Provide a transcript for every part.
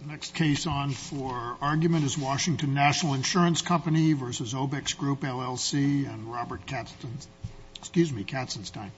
The next case on for argument is Washington National Insurance Company versus Obex Group LLC and Robert Katzenstein, excuse me, Katzenstein.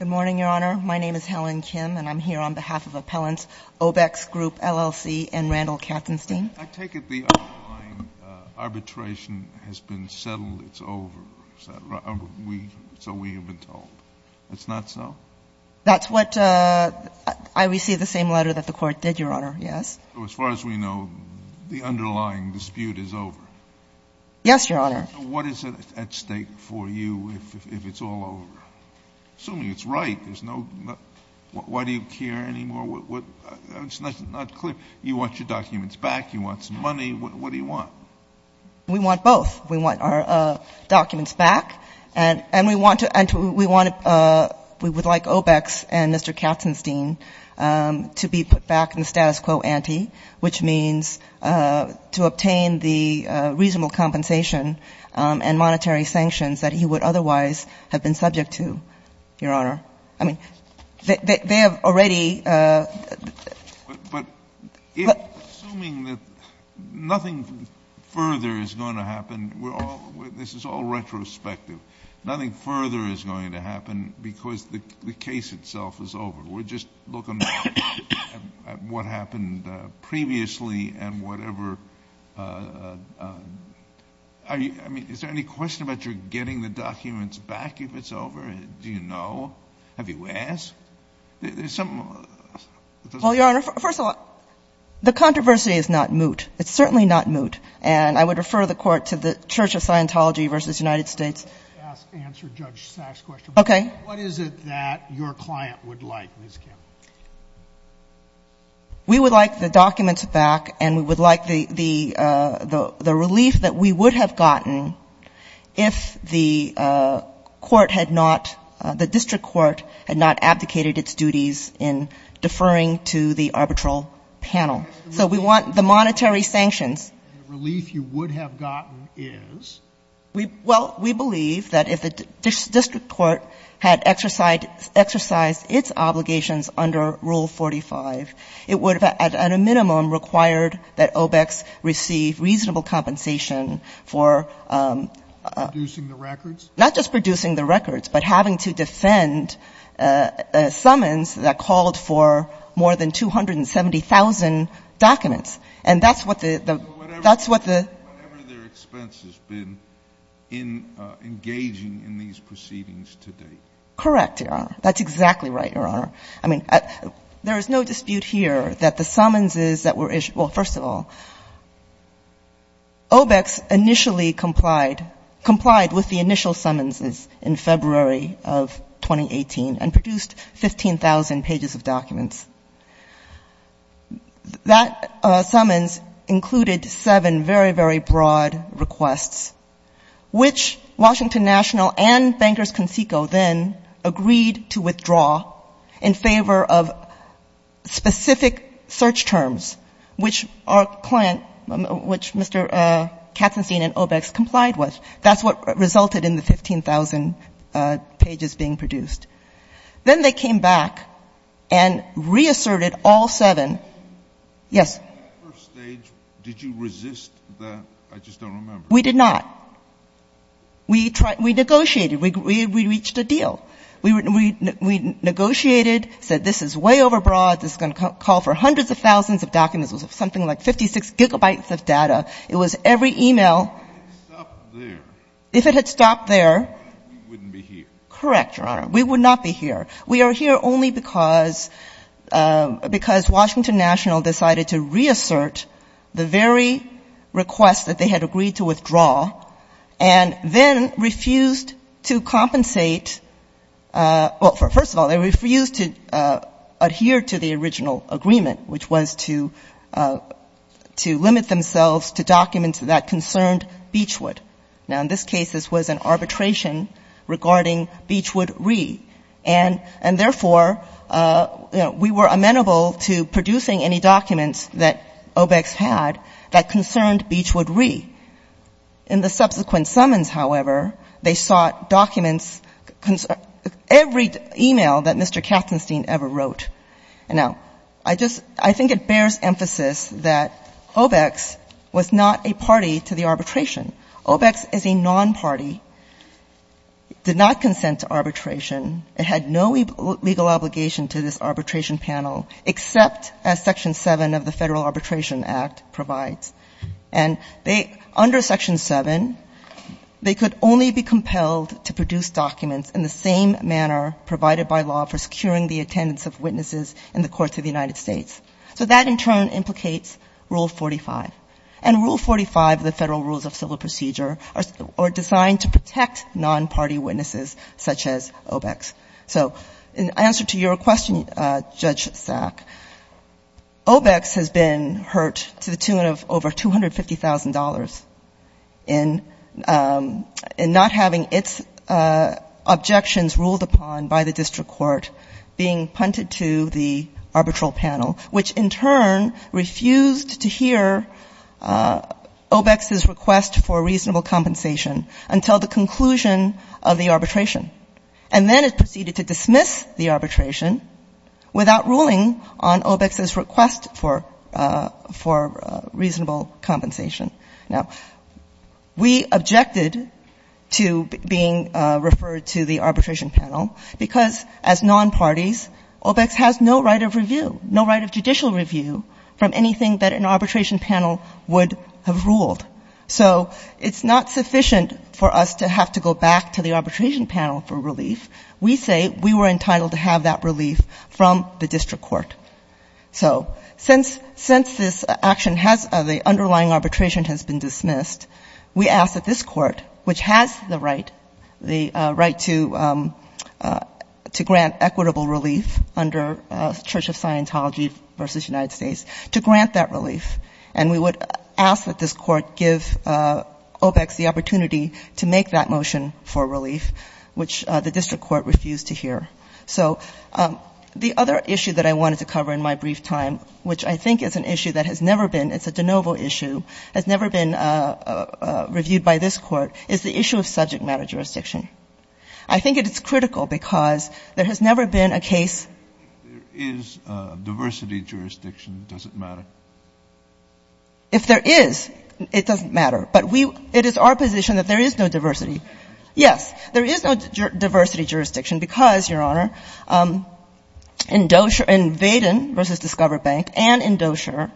Good morning, your honor. My name is Helen Kim and I'm here on behalf of Appellant Obex Group LLC and Randall Katzenstein. I take it the arbitration has been settled, it's over, so we have been told. It's not so? That's what I received the same letter that the Court did, your honor, yes. As far as we know, the underlying dispute is over. Yes, your honor. What is at stake for you if it's all over? Assuming it's right, there's no, why do you care anymore? It's not clear. You want your documents back, you want some money, what do you want? We want both. We want our documents back and we want to, we want to, we would like Obex and Mr. Katzenstein to be put back in the status quo ante, which means to obtain the reasonable compensation and monetary sanctions that he would otherwise have been subject to, your honor. I mean, they have already. Assuming that nothing further is going to happen, we're all, this is all retrospective, nothing further is going to happen because the case itself is over. We're just looking at what happened previously and whatever, I mean, is there any question about your getting the documents back if it's over, do you know? Have you asked? Well, your honor, first of all, the controversy is not moot. It's certainly not moot. And I would refer the court to the church of Scientology versus United States. Ask, answer Judge Sachs question. Okay. What is it that your client would like, Ms. Kim? We would like the documents back and we would like the, the, the, the relief that we would have gotten if the court had not, the district court had not abdicated its duties in deferring to the arbitral panel. So we want the monetary sanctions. The relief you would have gotten is? We, well, we believe that if the district court had exercised, exercised its obligations under Rule 45, it would have, at a minimum, required that OBECs receive reasonable compensation for, um, producing the records, not just producing the records, but having to defend, uh, uh, summons that called for more than 270,000 documents. And that's what the, the, that's what the, whatever their expense has been in, uh, engaging in these proceedings today. Correct. Your honor. That's exactly right. Your honor. I mean, uh, there is no dispute here that the summonses that were issued, well, first of all, OBECs initially complied, complied with the initial summonses in February of 2018 and produced 15,000 pages of documents. That, uh, summons included seven very, very broad requests, which Washington National and Bankers Consico then agreed to withdraw in favor of specific search terms, which our client, which Mr., uh, Katzenstein and OBECs complied with. That's what resulted in the 15,000, uh, pages being produced. Then they came back and reasserted all seven. Yes. At that first stage, did you resist the, I just don't remember. We did not. We tried, we negotiated, we, we, we reached a deal, we, we, we negotiated, said this is way overbroad. This is going to call for hundreds of thousands of documents, something like 56 gigabytes of data. It was every email. If it had stopped there. If it had stopped there. We wouldn't be here. Correct. Your honor. We would not be here. We are here only because, uh, because Washington National decided to reassert the very request that they had agreed to withdraw and then refused to compensate. Uh, well, for first of all, they refused to, uh, adhere to the original agreement, which was to, uh, to limit themselves to documents that concerned Beachwood. Now, in this case, this was an arbitration regarding Beachwood re and, and therefore, uh, you know, we were amenable to producing any documents that OBECs had that concerned Beachwood re. In the subsequent summons, however, they sought documents, every email that Mr. Kaffenstein ever wrote. And now, I just, I think it bears emphasis that OBECs was not a party to the arbitration. OBECs is a non-party, did not consent to arbitration. It had no legal obligation to this arbitration panel except as Section 7 of the Federal Arbitration Act provides. And they, under Section 7, they could only be compelled to produce documents in the same manner provided by law for securing the attendance of witnesses in the courts of the United States. So that in turn implicates Rule 45. And Rule 45 of the Federal Rules of Civil Procedure are, are designed to protect non-party witnesses such as OBECs. So in answer to your question, uh, Judge Sack, OBECs has been hurt to the tune of over $250,000 in, in not having its objections ruled upon by the district court being punted to the arbitral panel, which in turn refused to hear OBECs' request for reasonable compensation until the conclusion of the arbitration. And then it proceeded to dismiss the arbitration without ruling on OBECs' request for, for reasonable compensation. Now, we objected to being referred to the arbitration panel because as non-parties, OBECs has no right of review, no right of judicial review from anything that an arbitration panel would have ruled. So it's not sufficient for us to have to go back to the arbitration panel for relief. We say we were entitled to have that relief from the district court. So since, since this action has, the underlying arbitration has been dismissed, we ask that this court, which has the right, the right to, to grant equitable relief under Church of Scientology versus United States, to grant that relief. And we would ask that this court give OBECs the opportunity to make that motion for relief, which the district court refused to hear. So the other issue that I wanted to cover in my brief time, which I think is an issue that has never been, it's a de novo issue, has never been reviewed by this Court, is the issue of subject matter jurisdiction. I think it is critical because there has never been a case. If there is diversity jurisdiction, does it matter? If there is, it doesn't matter. But we, it is our position that there is no diversity. Yes, there is no diversity jurisdiction because, Your Honor, in Dozier, in Vaden versus Discover Bank and in Dozier,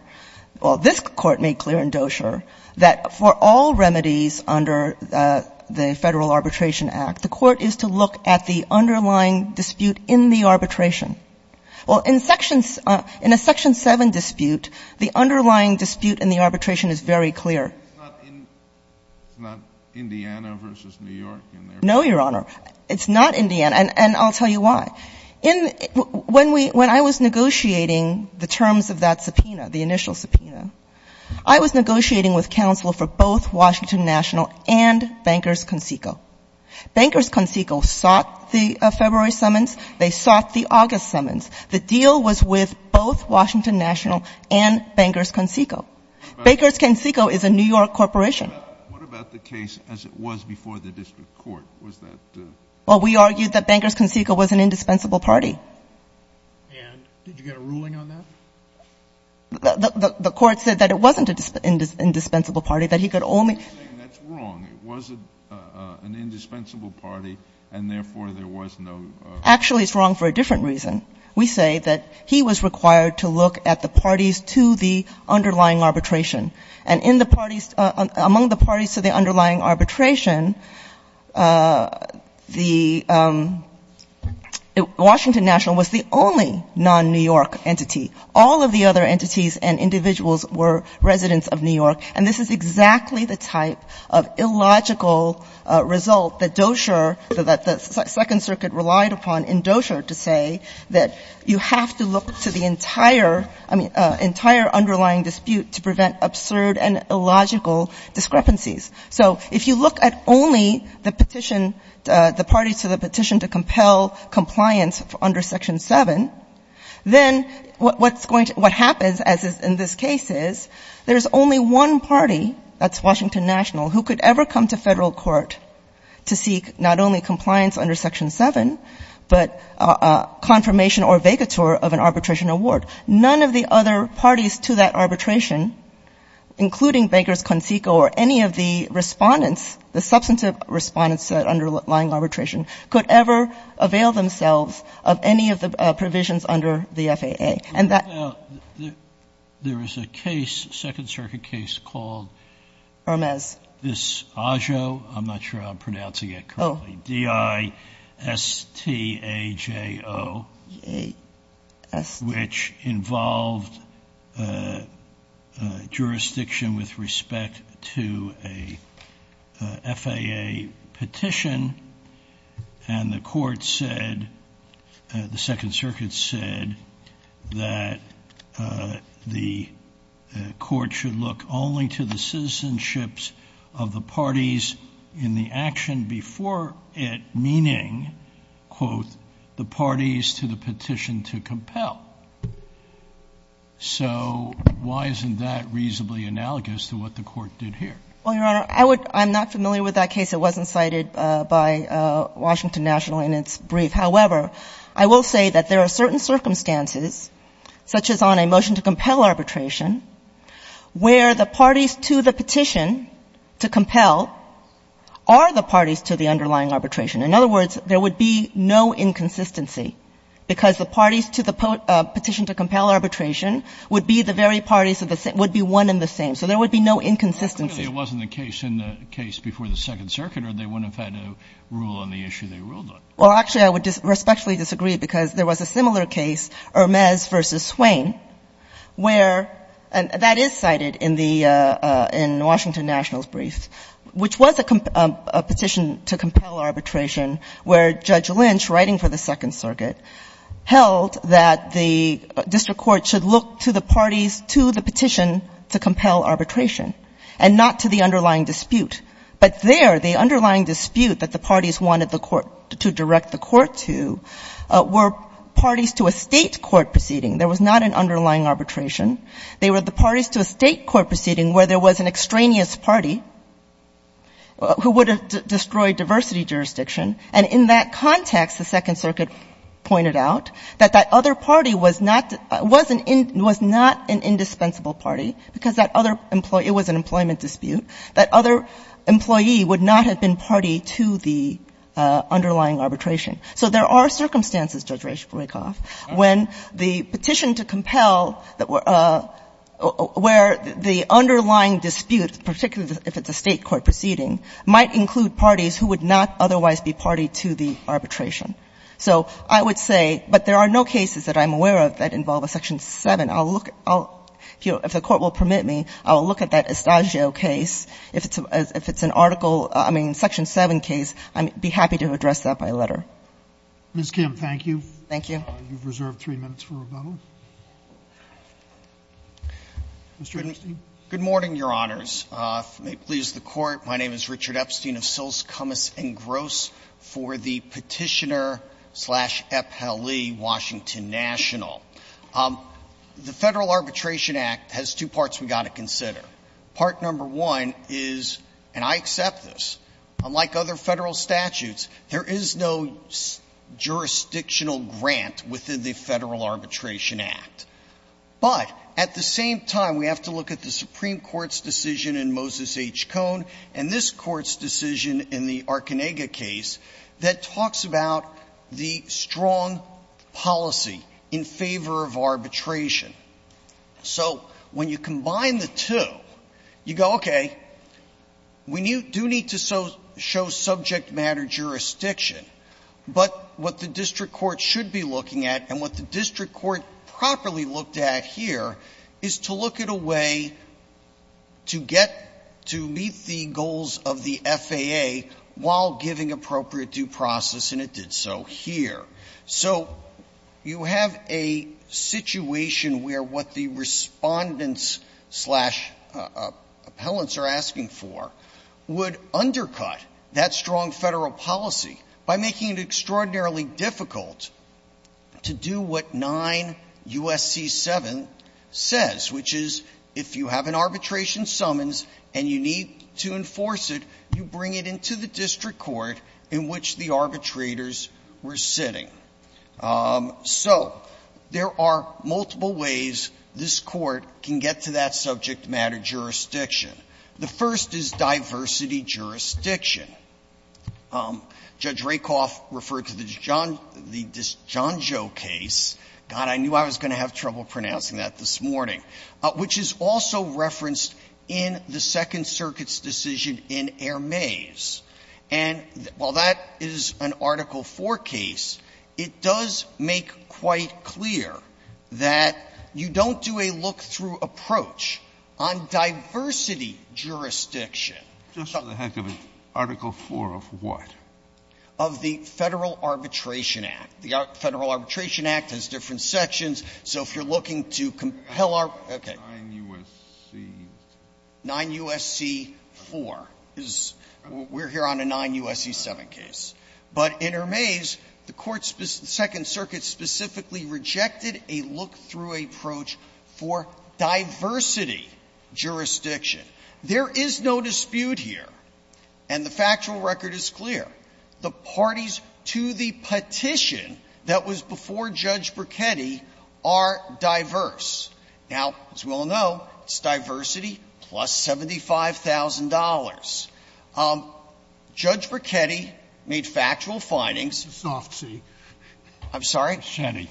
well, this Court made clear in Dozier that for all remedies under the Federal Arbitration Act, the Court is to look at the underlying dispute in the arbitration. Well, in Section, in a Section 7 dispute, the underlying dispute in the arbitration is very clear. It's not Indiana versus New York in there? No, Your Honor. It's not Indiana. And I'll tell you why. In, when we, when I was negotiating the terms of that subpoena, the initial subpoena, I was negotiating with counsel for both Washington National and Bankers Consico. Bankers Consico sought the February summons. They sought the August summons. The deal was with both Washington National and Bankers Consico. Bankers Consico is a New York corporation. What about the case as it was before the district court? Was that? Well, we argued that Bankers Consico was an indispensable party. And did you get a ruling on that? The Court said that it wasn't an indispensable party, that he could only. You're saying that's wrong. It was an indispensable party, and therefore, there was no. Actually, it's wrong for a different reason. We say that he was required to look at the parties to the underlying arbitration. And in the parties, among the parties to the underlying arbitration, the Washington National was the only non-New York entity. All of the other entities and individuals were residents of New York. And this is exactly the type of illogical result that Dozier, that the Second Circuit relied upon in Dozier to say that you have to look to the entire, I mean, entire underlying dispute to prevent absurd and illogical discrepancies. So if you look at only the petition, the parties to the petition to compel compliance under Section 7, then what's going to, what happens as is in this case is there's only one party, that's Washington National, who could ever come to federal court to seek not only compliance under Section 7, but confirmation or vacatur of an arbitration award. None of the other parties to that arbitration, including Bankers Consico or any of the respondents, the substantive respondents to that underlying arbitration, could ever avail themselves of any of the provisions under the FAA. And that — There is a case, Second Circuit case called — Hermes. This AJO, I'm not sure how I'm pronouncing it currently. Oh. D-I-S-T-A-J-O. A-S. Which involved jurisdiction with respect to a FAA petition. And the court said, the Second Circuit said, that the court should look only to the citizenships of the parties in the action before it, meaning, quote, the parties to the petition to compel. So why isn't that reasonably analogous to what the court did here? Well, Your Honor, I would — I'm not familiar with that case. It wasn't cited by Washington National in its brief. However, I will say that there are certain circumstances, such as on a motion to petition to compel, are the parties to the underlying arbitration. In other words, there would be no inconsistency, because the parties to the petition to compel arbitration would be the very parties — would be one and the same. So there would be no inconsistency. Clearly, it wasn't the case in the case before the Second Circuit, or they wouldn't have had a rule on the issue they ruled on. Well, actually, I would respectfully disagree, because there was a similar case, Hermes v. Swain, where — and that is cited in the — in Washington National's brief, which was a petition to compel arbitration, where Judge Lynch, writing for the Second Circuit, held that the district court should look to the parties to the petition to compel arbitration, and not to the underlying dispute. But there, the underlying dispute that the parties wanted the court — to direct the court to were parties to a State court proceeding. There was not an underlying arbitration. They were the parties to a State court proceeding where there was an extraneous party who would have destroyed diversity jurisdiction. And in that context, the Second Circuit pointed out that that other party was not — was an — was not an indispensable party, because that other — it was an employment dispute. That other employee would not have been party to the underlying arbitration. So there are circumstances, Judge Reich, to break off when the petition to compel that were — where the underlying dispute, particularly if it's a State court proceeding, might include parties who would not otherwise be party to the arbitration. So I would say — but there are no cases that I'm aware of that involve a Section VII. I'll look — I'll — you know, if the Court will permit me, I will look at that Adagio case. If it's — if it's an article — I mean, Section VII case, I'd be happy to address that by letter. Ms. Kim, thank you. Thank you. You've reserved three minutes for rebuttal. Mr. Epstein. Good morning, Your Honors. If it pleases the Court, my name is Richard Epstein of Sils, Cummis & Gross for the Petitioner-slash-Epp-Hallie Washington National. The Federal Arbitration Act has two parts we've got to consider. Part number one is — and I accept this — unlike other Federal statutes, there is no jurisdictional grant within the Federal Arbitration Act. But at the same time, we have to look at the Supreme Court's decision in Moses H. Cohn and this Court's decision in the Archenega case that talks about the strong policy in favor of arbitration. So when you combine the two, you go, okay, we do need to show subject-matter jurisdiction, but what the district court should be looking at and what the district court properly looked at here is to look at a way to get — to meet the goals of the district court. So you have a situation where what the Respondents-slash-Appellants are asking for would undercut that strong Federal policy by making it extraordinarily difficult to do what 9 U.S.C. 7 says, which is if you have an arbitration summons and you need to enforce it, you bring it into the district court in which the arbitrators were sitting. So there are multiple ways this Court can get to that subject-matter jurisdiction. The first is diversity jurisdiction. Judge Rakoff referred to the Dijonjo case — God, I knew I was going to have trouble pronouncing that this morning — which is also referenced in the Second Circuit's decision in Hermes. And while that is an Article IV case, it does make quite clear that you don't do a look-through approach on diversity jurisdiction. Just for the heck of it, Article IV of what? Of the Federal Arbitration Act. The Federal Arbitration Act has different sections. So if you're looking to compel our — okay. 9 U.S.C. 9 U.S.C. 4. We're here on a 9 U.S.C. 7 case. But in Hermes, the Court's — the Second Circuit specifically rejected a look-through approach for diversity jurisdiction. There is no dispute here, and the factual record is clear. The parties to the petition that was before Judge Brachetti are diverse. Now, as we all know, it's diversity plus $75,000. Judge Brachetti made factual findings. Scalia, I'm sorry? Brachetti.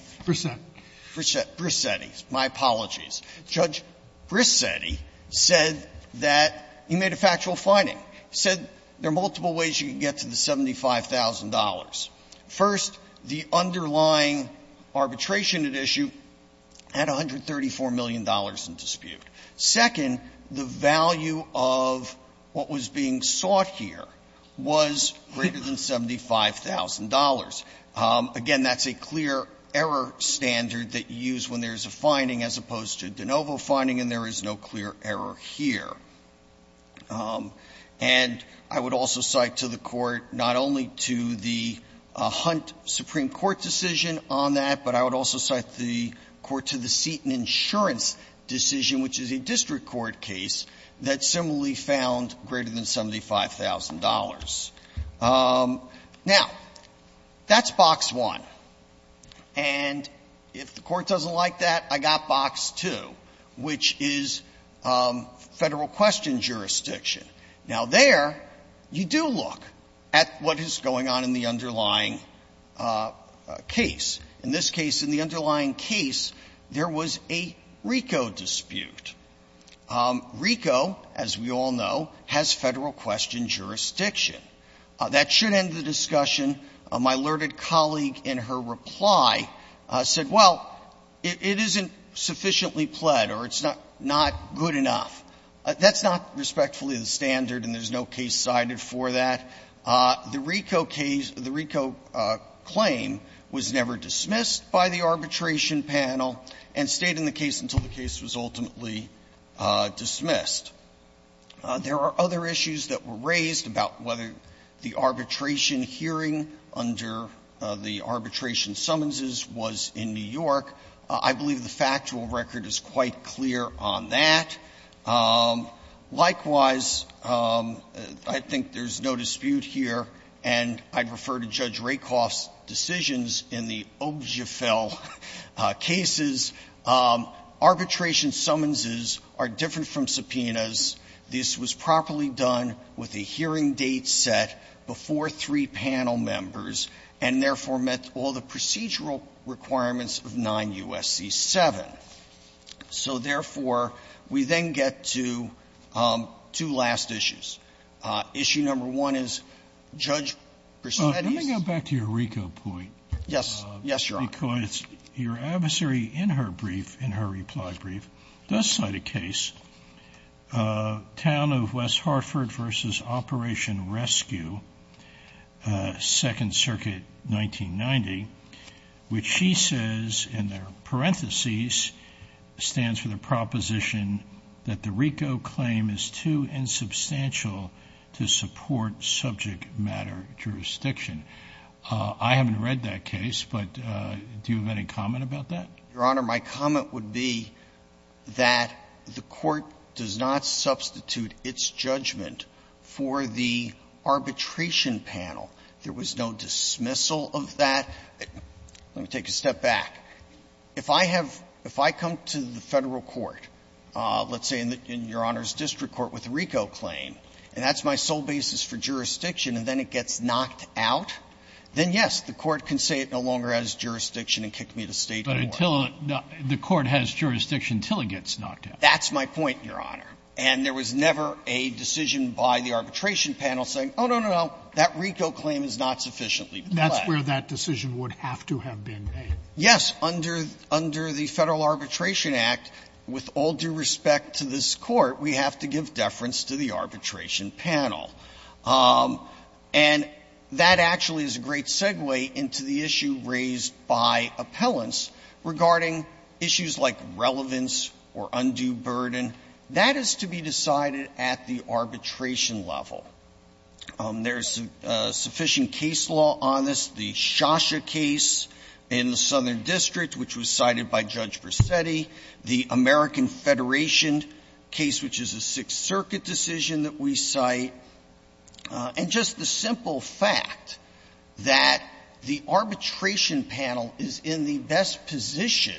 Brachetti. Brachetti. My apologies. Judge Brachetti said that he made a factual finding. He said there are multiple ways you can get to the $75,000. First, the underlying arbitration at issue had $134 million in dispute. Second, the value of what was being sought here was greater than $75,000. Again, that's a clear error standard that you use when there's a finding as opposed to de novo finding, and there is no clear error here. And I would also cite to the Court not only to the Hunt Supreme Court decision on that, but I would also cite the Court to the Seton Insurance decision, which is a district court case, that similarly found greater than $75,000. Now, that's box one. And if the Court doesn't like that, I've got box two, which is Federal courts question jurisdiction. Now, there, you do look at what is going on in the underlying case. In this case, in the underlying case, there was a RICO dispute. RICO, as we all know, has Federal question jurisdiction. That should end the discussion. My alerted colleague, in her reply, said, well, it isn't sufficiently pled or it's not good enough. That's not respectfully the standard, and there's no case cited for that. The RICO case, the RICO claim was never dismissed by the arbitration panel and stayed in the case until the case was ultimately dismissed. There are other issues that were raised about whether the arbitration hearing under the arbitration summonses was in New York. I believe the factual record is quite clear on that. Likewise, I think there's no dispute here. And I'd refer to Judge Rakoff's decisions in the Objefel cases. Arbitration summonses are different from subpoenas. This was properly done with a hearing date set before three panel members, and therefore met all the procedural requirements of 9 U.S.C. 7. So, therefore, we then get to two last issues. Issue number one is, Judge, proceed at ease. Scalia, let me go back to your RICO point. Yes. Yes, Your Honor. Because your adversary, in her brief, in her reply brief, does cite a case, Town of West Hartford v. Operation Rescue, Second Circuit, 1990, which she says, in their parentheses, stands for the proposition that the RICO claim is too insubstantial to support subject matter jurisdiction. I haven't read that case, but do you have any comment about that? Your Honor, my comment would be that the Court does not substitute its judgment for the arbitration panel. There was no dismissal of that. Let me take a step back. If I have – if I come to the Federal court, let's say in Your Honor's district court, with a RICO claim, and that's my sole basis for jurisdiction, and then it gets knocked out, then, yes, the Court can say it no longer has jurisdiction and kick me to State court. But until – the Court has jurisdiction until it gets knocked out. That's my point, Your Honor. And there was never a decision by the arbitration panel saying, oh, no, no, no, that RICO claim is not sufficiently flat. That's where that decision would have to have been made. Yes, under the Federal Arbitration Act, with all due respect to this Court, we have to give deference to the arbitration panel. And that actually is a great segue into the issue raised by appellants regarding issues like relevance or undue burden. That is to be decided at the arbitration level. There is sufficient case law on this. The Shosha case in the Southern District, which was cited by Judge Vercetti. The American Federation case, which is a Sixth Circuit decision that we cite. And just the simple fact that the arbitration panel is in the best position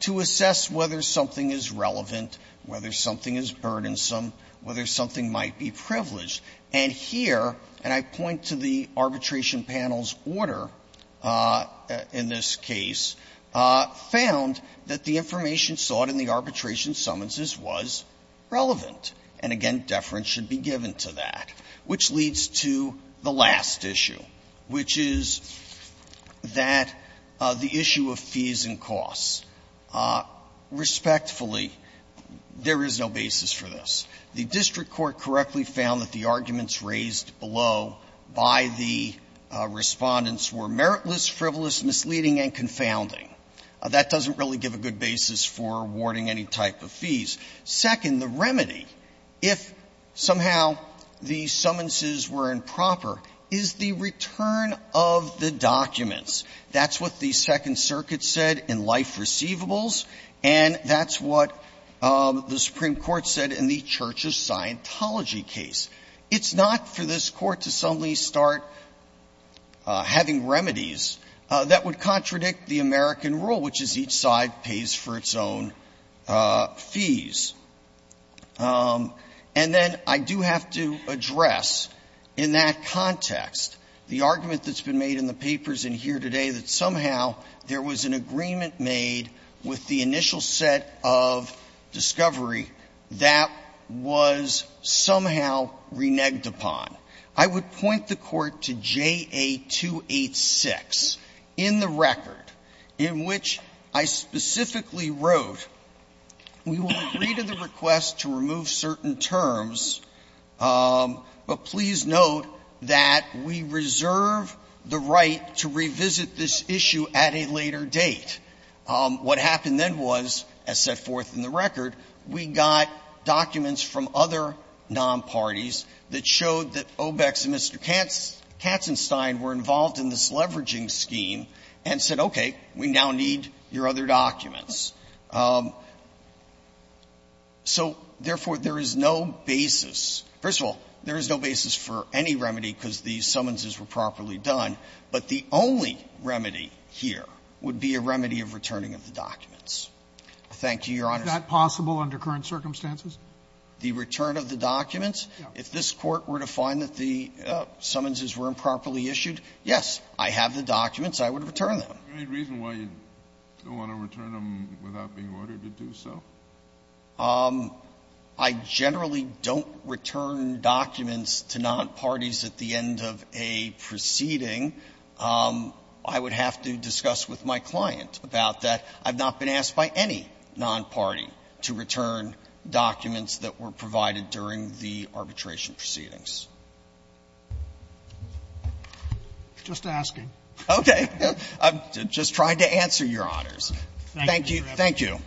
to assess whether something is relevant, whether something is burdensome, whether something might be privileged. And here, and I point to the arbitration panel's order in this case, found that the information sought in the arbitration summonses was relevant. And again, deference should be given to that, which leads to the last issue, which is that the issue of fees and costs. Respectfully, there is no basis for this. The district court correctly found that the arguments raised below by the Respondents were meritless, frivolous, misleading, and confounding. That doesn't really give a good basis for awarding any type of fees. Second, the remedy, if somehow the summonses were improper, is the return of the documents. That's what the Second Circuit said in life receivables, and that's what the Supreme Court said in the Church's Scientology case. It's not for this Court to suddenly start having remedies that would contradict the American rule, which is each side pays for its own fees. And then I do have to address in that context the argument that's been made in the papers in here today that somehow there was an agreement made with the initial set of discovery that was somehow reneged upon. I would point the Court to JA-286 in the record, in which I specifically wrote, we will agree to the request to remove certain terms, but please note that we reserve the right to revisit this issue at a later date. What happened then was, as set forth in the record, we got documents from other non-parties that showed that Obex and Mr. Katzenstein were involved in this leveraging scheme and said, okay, we now need your other documents. So, therefore, there is no basis. First of all, there is no basis for any remedy because the summonses were properly done, but the only remedy here would be a remedy of returning of the documents. Thank you, Your Honor. Sotomayor, is that possible under current circumstances? The return of the documents? If this Court were to find that the summonses were improperly issued, yes, I have the documents. I would return them. Do you have any reason why you don't want to return them without being ordered to do so? I generally don't return documents to non-parties at the end of a proceeding I would have to discuss with my client about that. I've not been asked by any non-party to return documents that were provided during the arbitration proceedings. Just asking. Okay. I'm just trying to answer, Your Honors. Thank you. Thank you.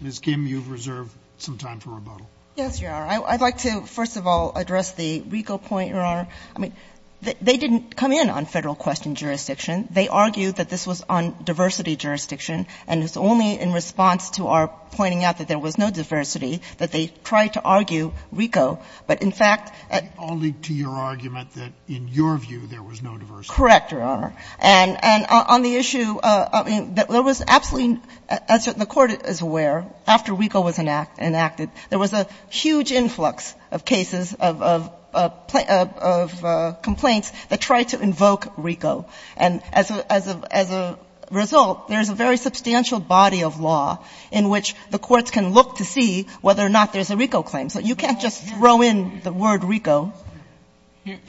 Ms. Kim, you've reserved some time for rebuttal. Yes, Your Honor. I'd like to, first of all, address the RICO point, Your Honor. I mean, they didn't come in on Federal question jurisdiction. They argued that this was on diversity jurisdiction, and it's only in response to our pointing out that there was no diversity that they tried to argue RICO. But, in fact, I'll lead to your argument that, in your view, there was no diversity. Correct, Your Honor. And on the issue, I mean, there was absolutely, as the Court is aware, after RICO was enacted, there was a huge influx of cases of complaints that tried to invoke RICO. And as a result, there's a very substantial body of law in which the courts can look to see whether or not there's a RICO claim. So you can't just throw in the word RICO.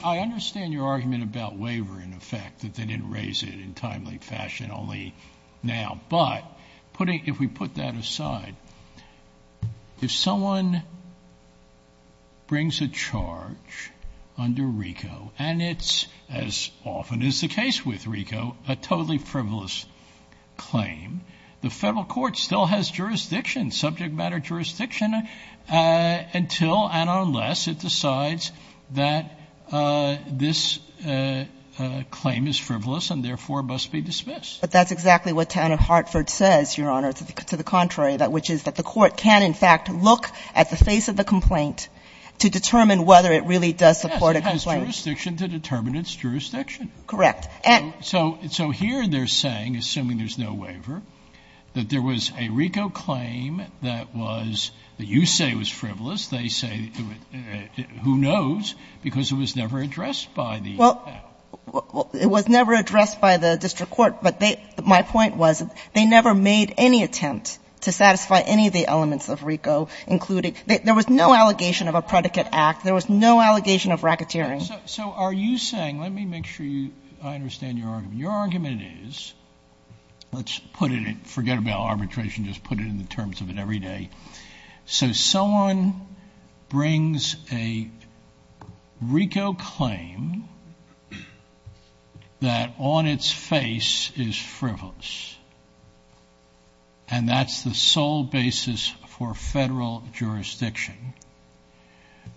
I understand your argument about waiver, in effect, that they didn't raise it in timely fashion, only now. But, if we put that aside, if someone brings a charge under RICO, and it's, as often is the case with RICO, a totally frivolous claim, the Federal Court still has jurisdiction, subject matter jurisdiction, until and unless it decides that this claim is frivolous and, therefore, must be dismissed. But that's exactly what Tanner Hartford says, Your Honor, to the contrary, which is that the Court can, in fact, look at the face of the complaint to determine whether it really does support a complaint. Yes, it has jurisdiction to determine its jurisdiction. Correct. So here they're saying, assuming there's no waiver, that there was a RICO claim that was, that you say was frivolous, they say, who knows, because it was never addressed by the Federal. It was never addressed by the district court, but they, my point was, they never made any attempt to satisfy any of the elements of RICO, including, there was no allegation of a predicate act. There was no allegation of racketeering. So are you saying, let me make sure you, I understand your argument. Your argument is, let's put it in, forget about arbitration, just put it in the terms of it every day. So someone brings a RICO claim that on its face is frivolous, and that's the sole basis for Federal jurisdiction.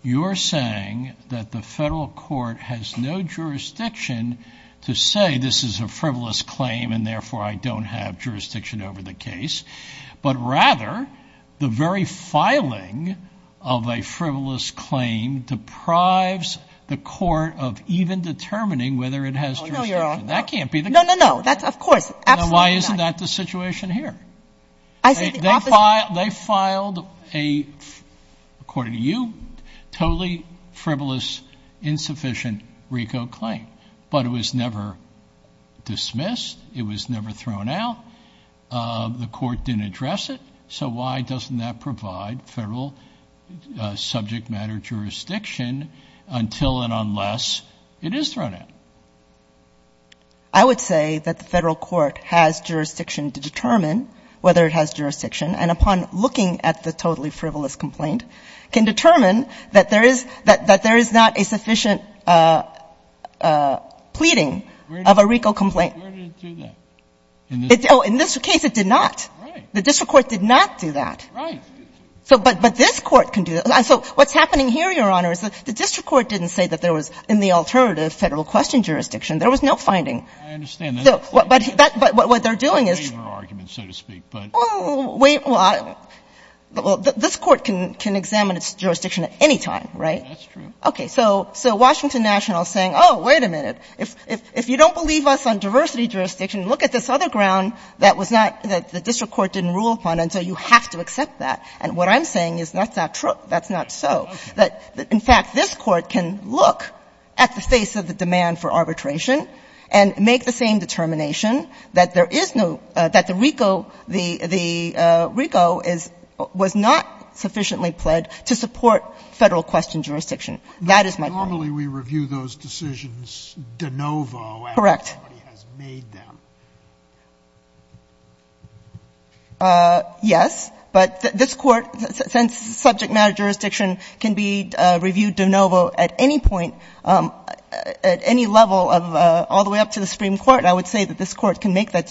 You're saying that the Federal Court has no jurisdiction to say, this is a frivolous claim, and therefore I don't have jurisdiction over the case. But rather, the very filing of a frivolous claim deprives the court of even determining Oh, no, Your Honor. That can't be the case. No, no, no. That's, of course. Absolutely not. Now, why isn't that the situation here? I say the opposite. They filed a, according to you, totally frivolous, insufficient RICO claim. But it was never dismissed. It was never thrown out. The court didn't address it. So why doesn't that provide Federal subject matter jurisdiction until and unless it is thrown out? I would say that the Federal Court has jurisdiction to determine whether it has jurisdiction and upon looking at the totally frivolous complaint, can determine that there is not a sufficient pleading of a RICO complaint. Where did it do that? Oh, in this case, it did not. Right. The district court did not do that. Right. But this court can do that. So what's happening here, Your Honor, is the district court didn't say that there was in the alternative Federal question jurisdiction. There was no finding. I understand that. But what they're doing is It's a favor argument, so to speak. Well, this court can examine its jurisdiction at any time, right? That's true. Okay. So Washington National is saying, oh, wait a minute. If you don't believe us on diversity jurisdiction, look at this other ground that the district court didn't rule upon, and so you have to accept that. And what I'm saying is that's not true. That's not so. In fact, this court can look at the face of the demand for arbitration and make the same determination that there is no — that the RICO was not sufficiently pled to support Federal question jurisdiction. That is my point. Normally, we review those decisions de novo after somebody has made them. Correct. Yes. But this court, since subject matter jurisdiction can be reviewed de novo at any point, at any level of all the way up to the Supreme Court, I would say that this court can make that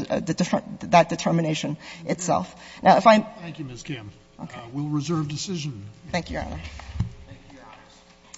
determination itself. Thank you, Ms. Kim. Okay. And that concludes the reserve decision. Thank you, Your Honor. Thank you, Your Honor.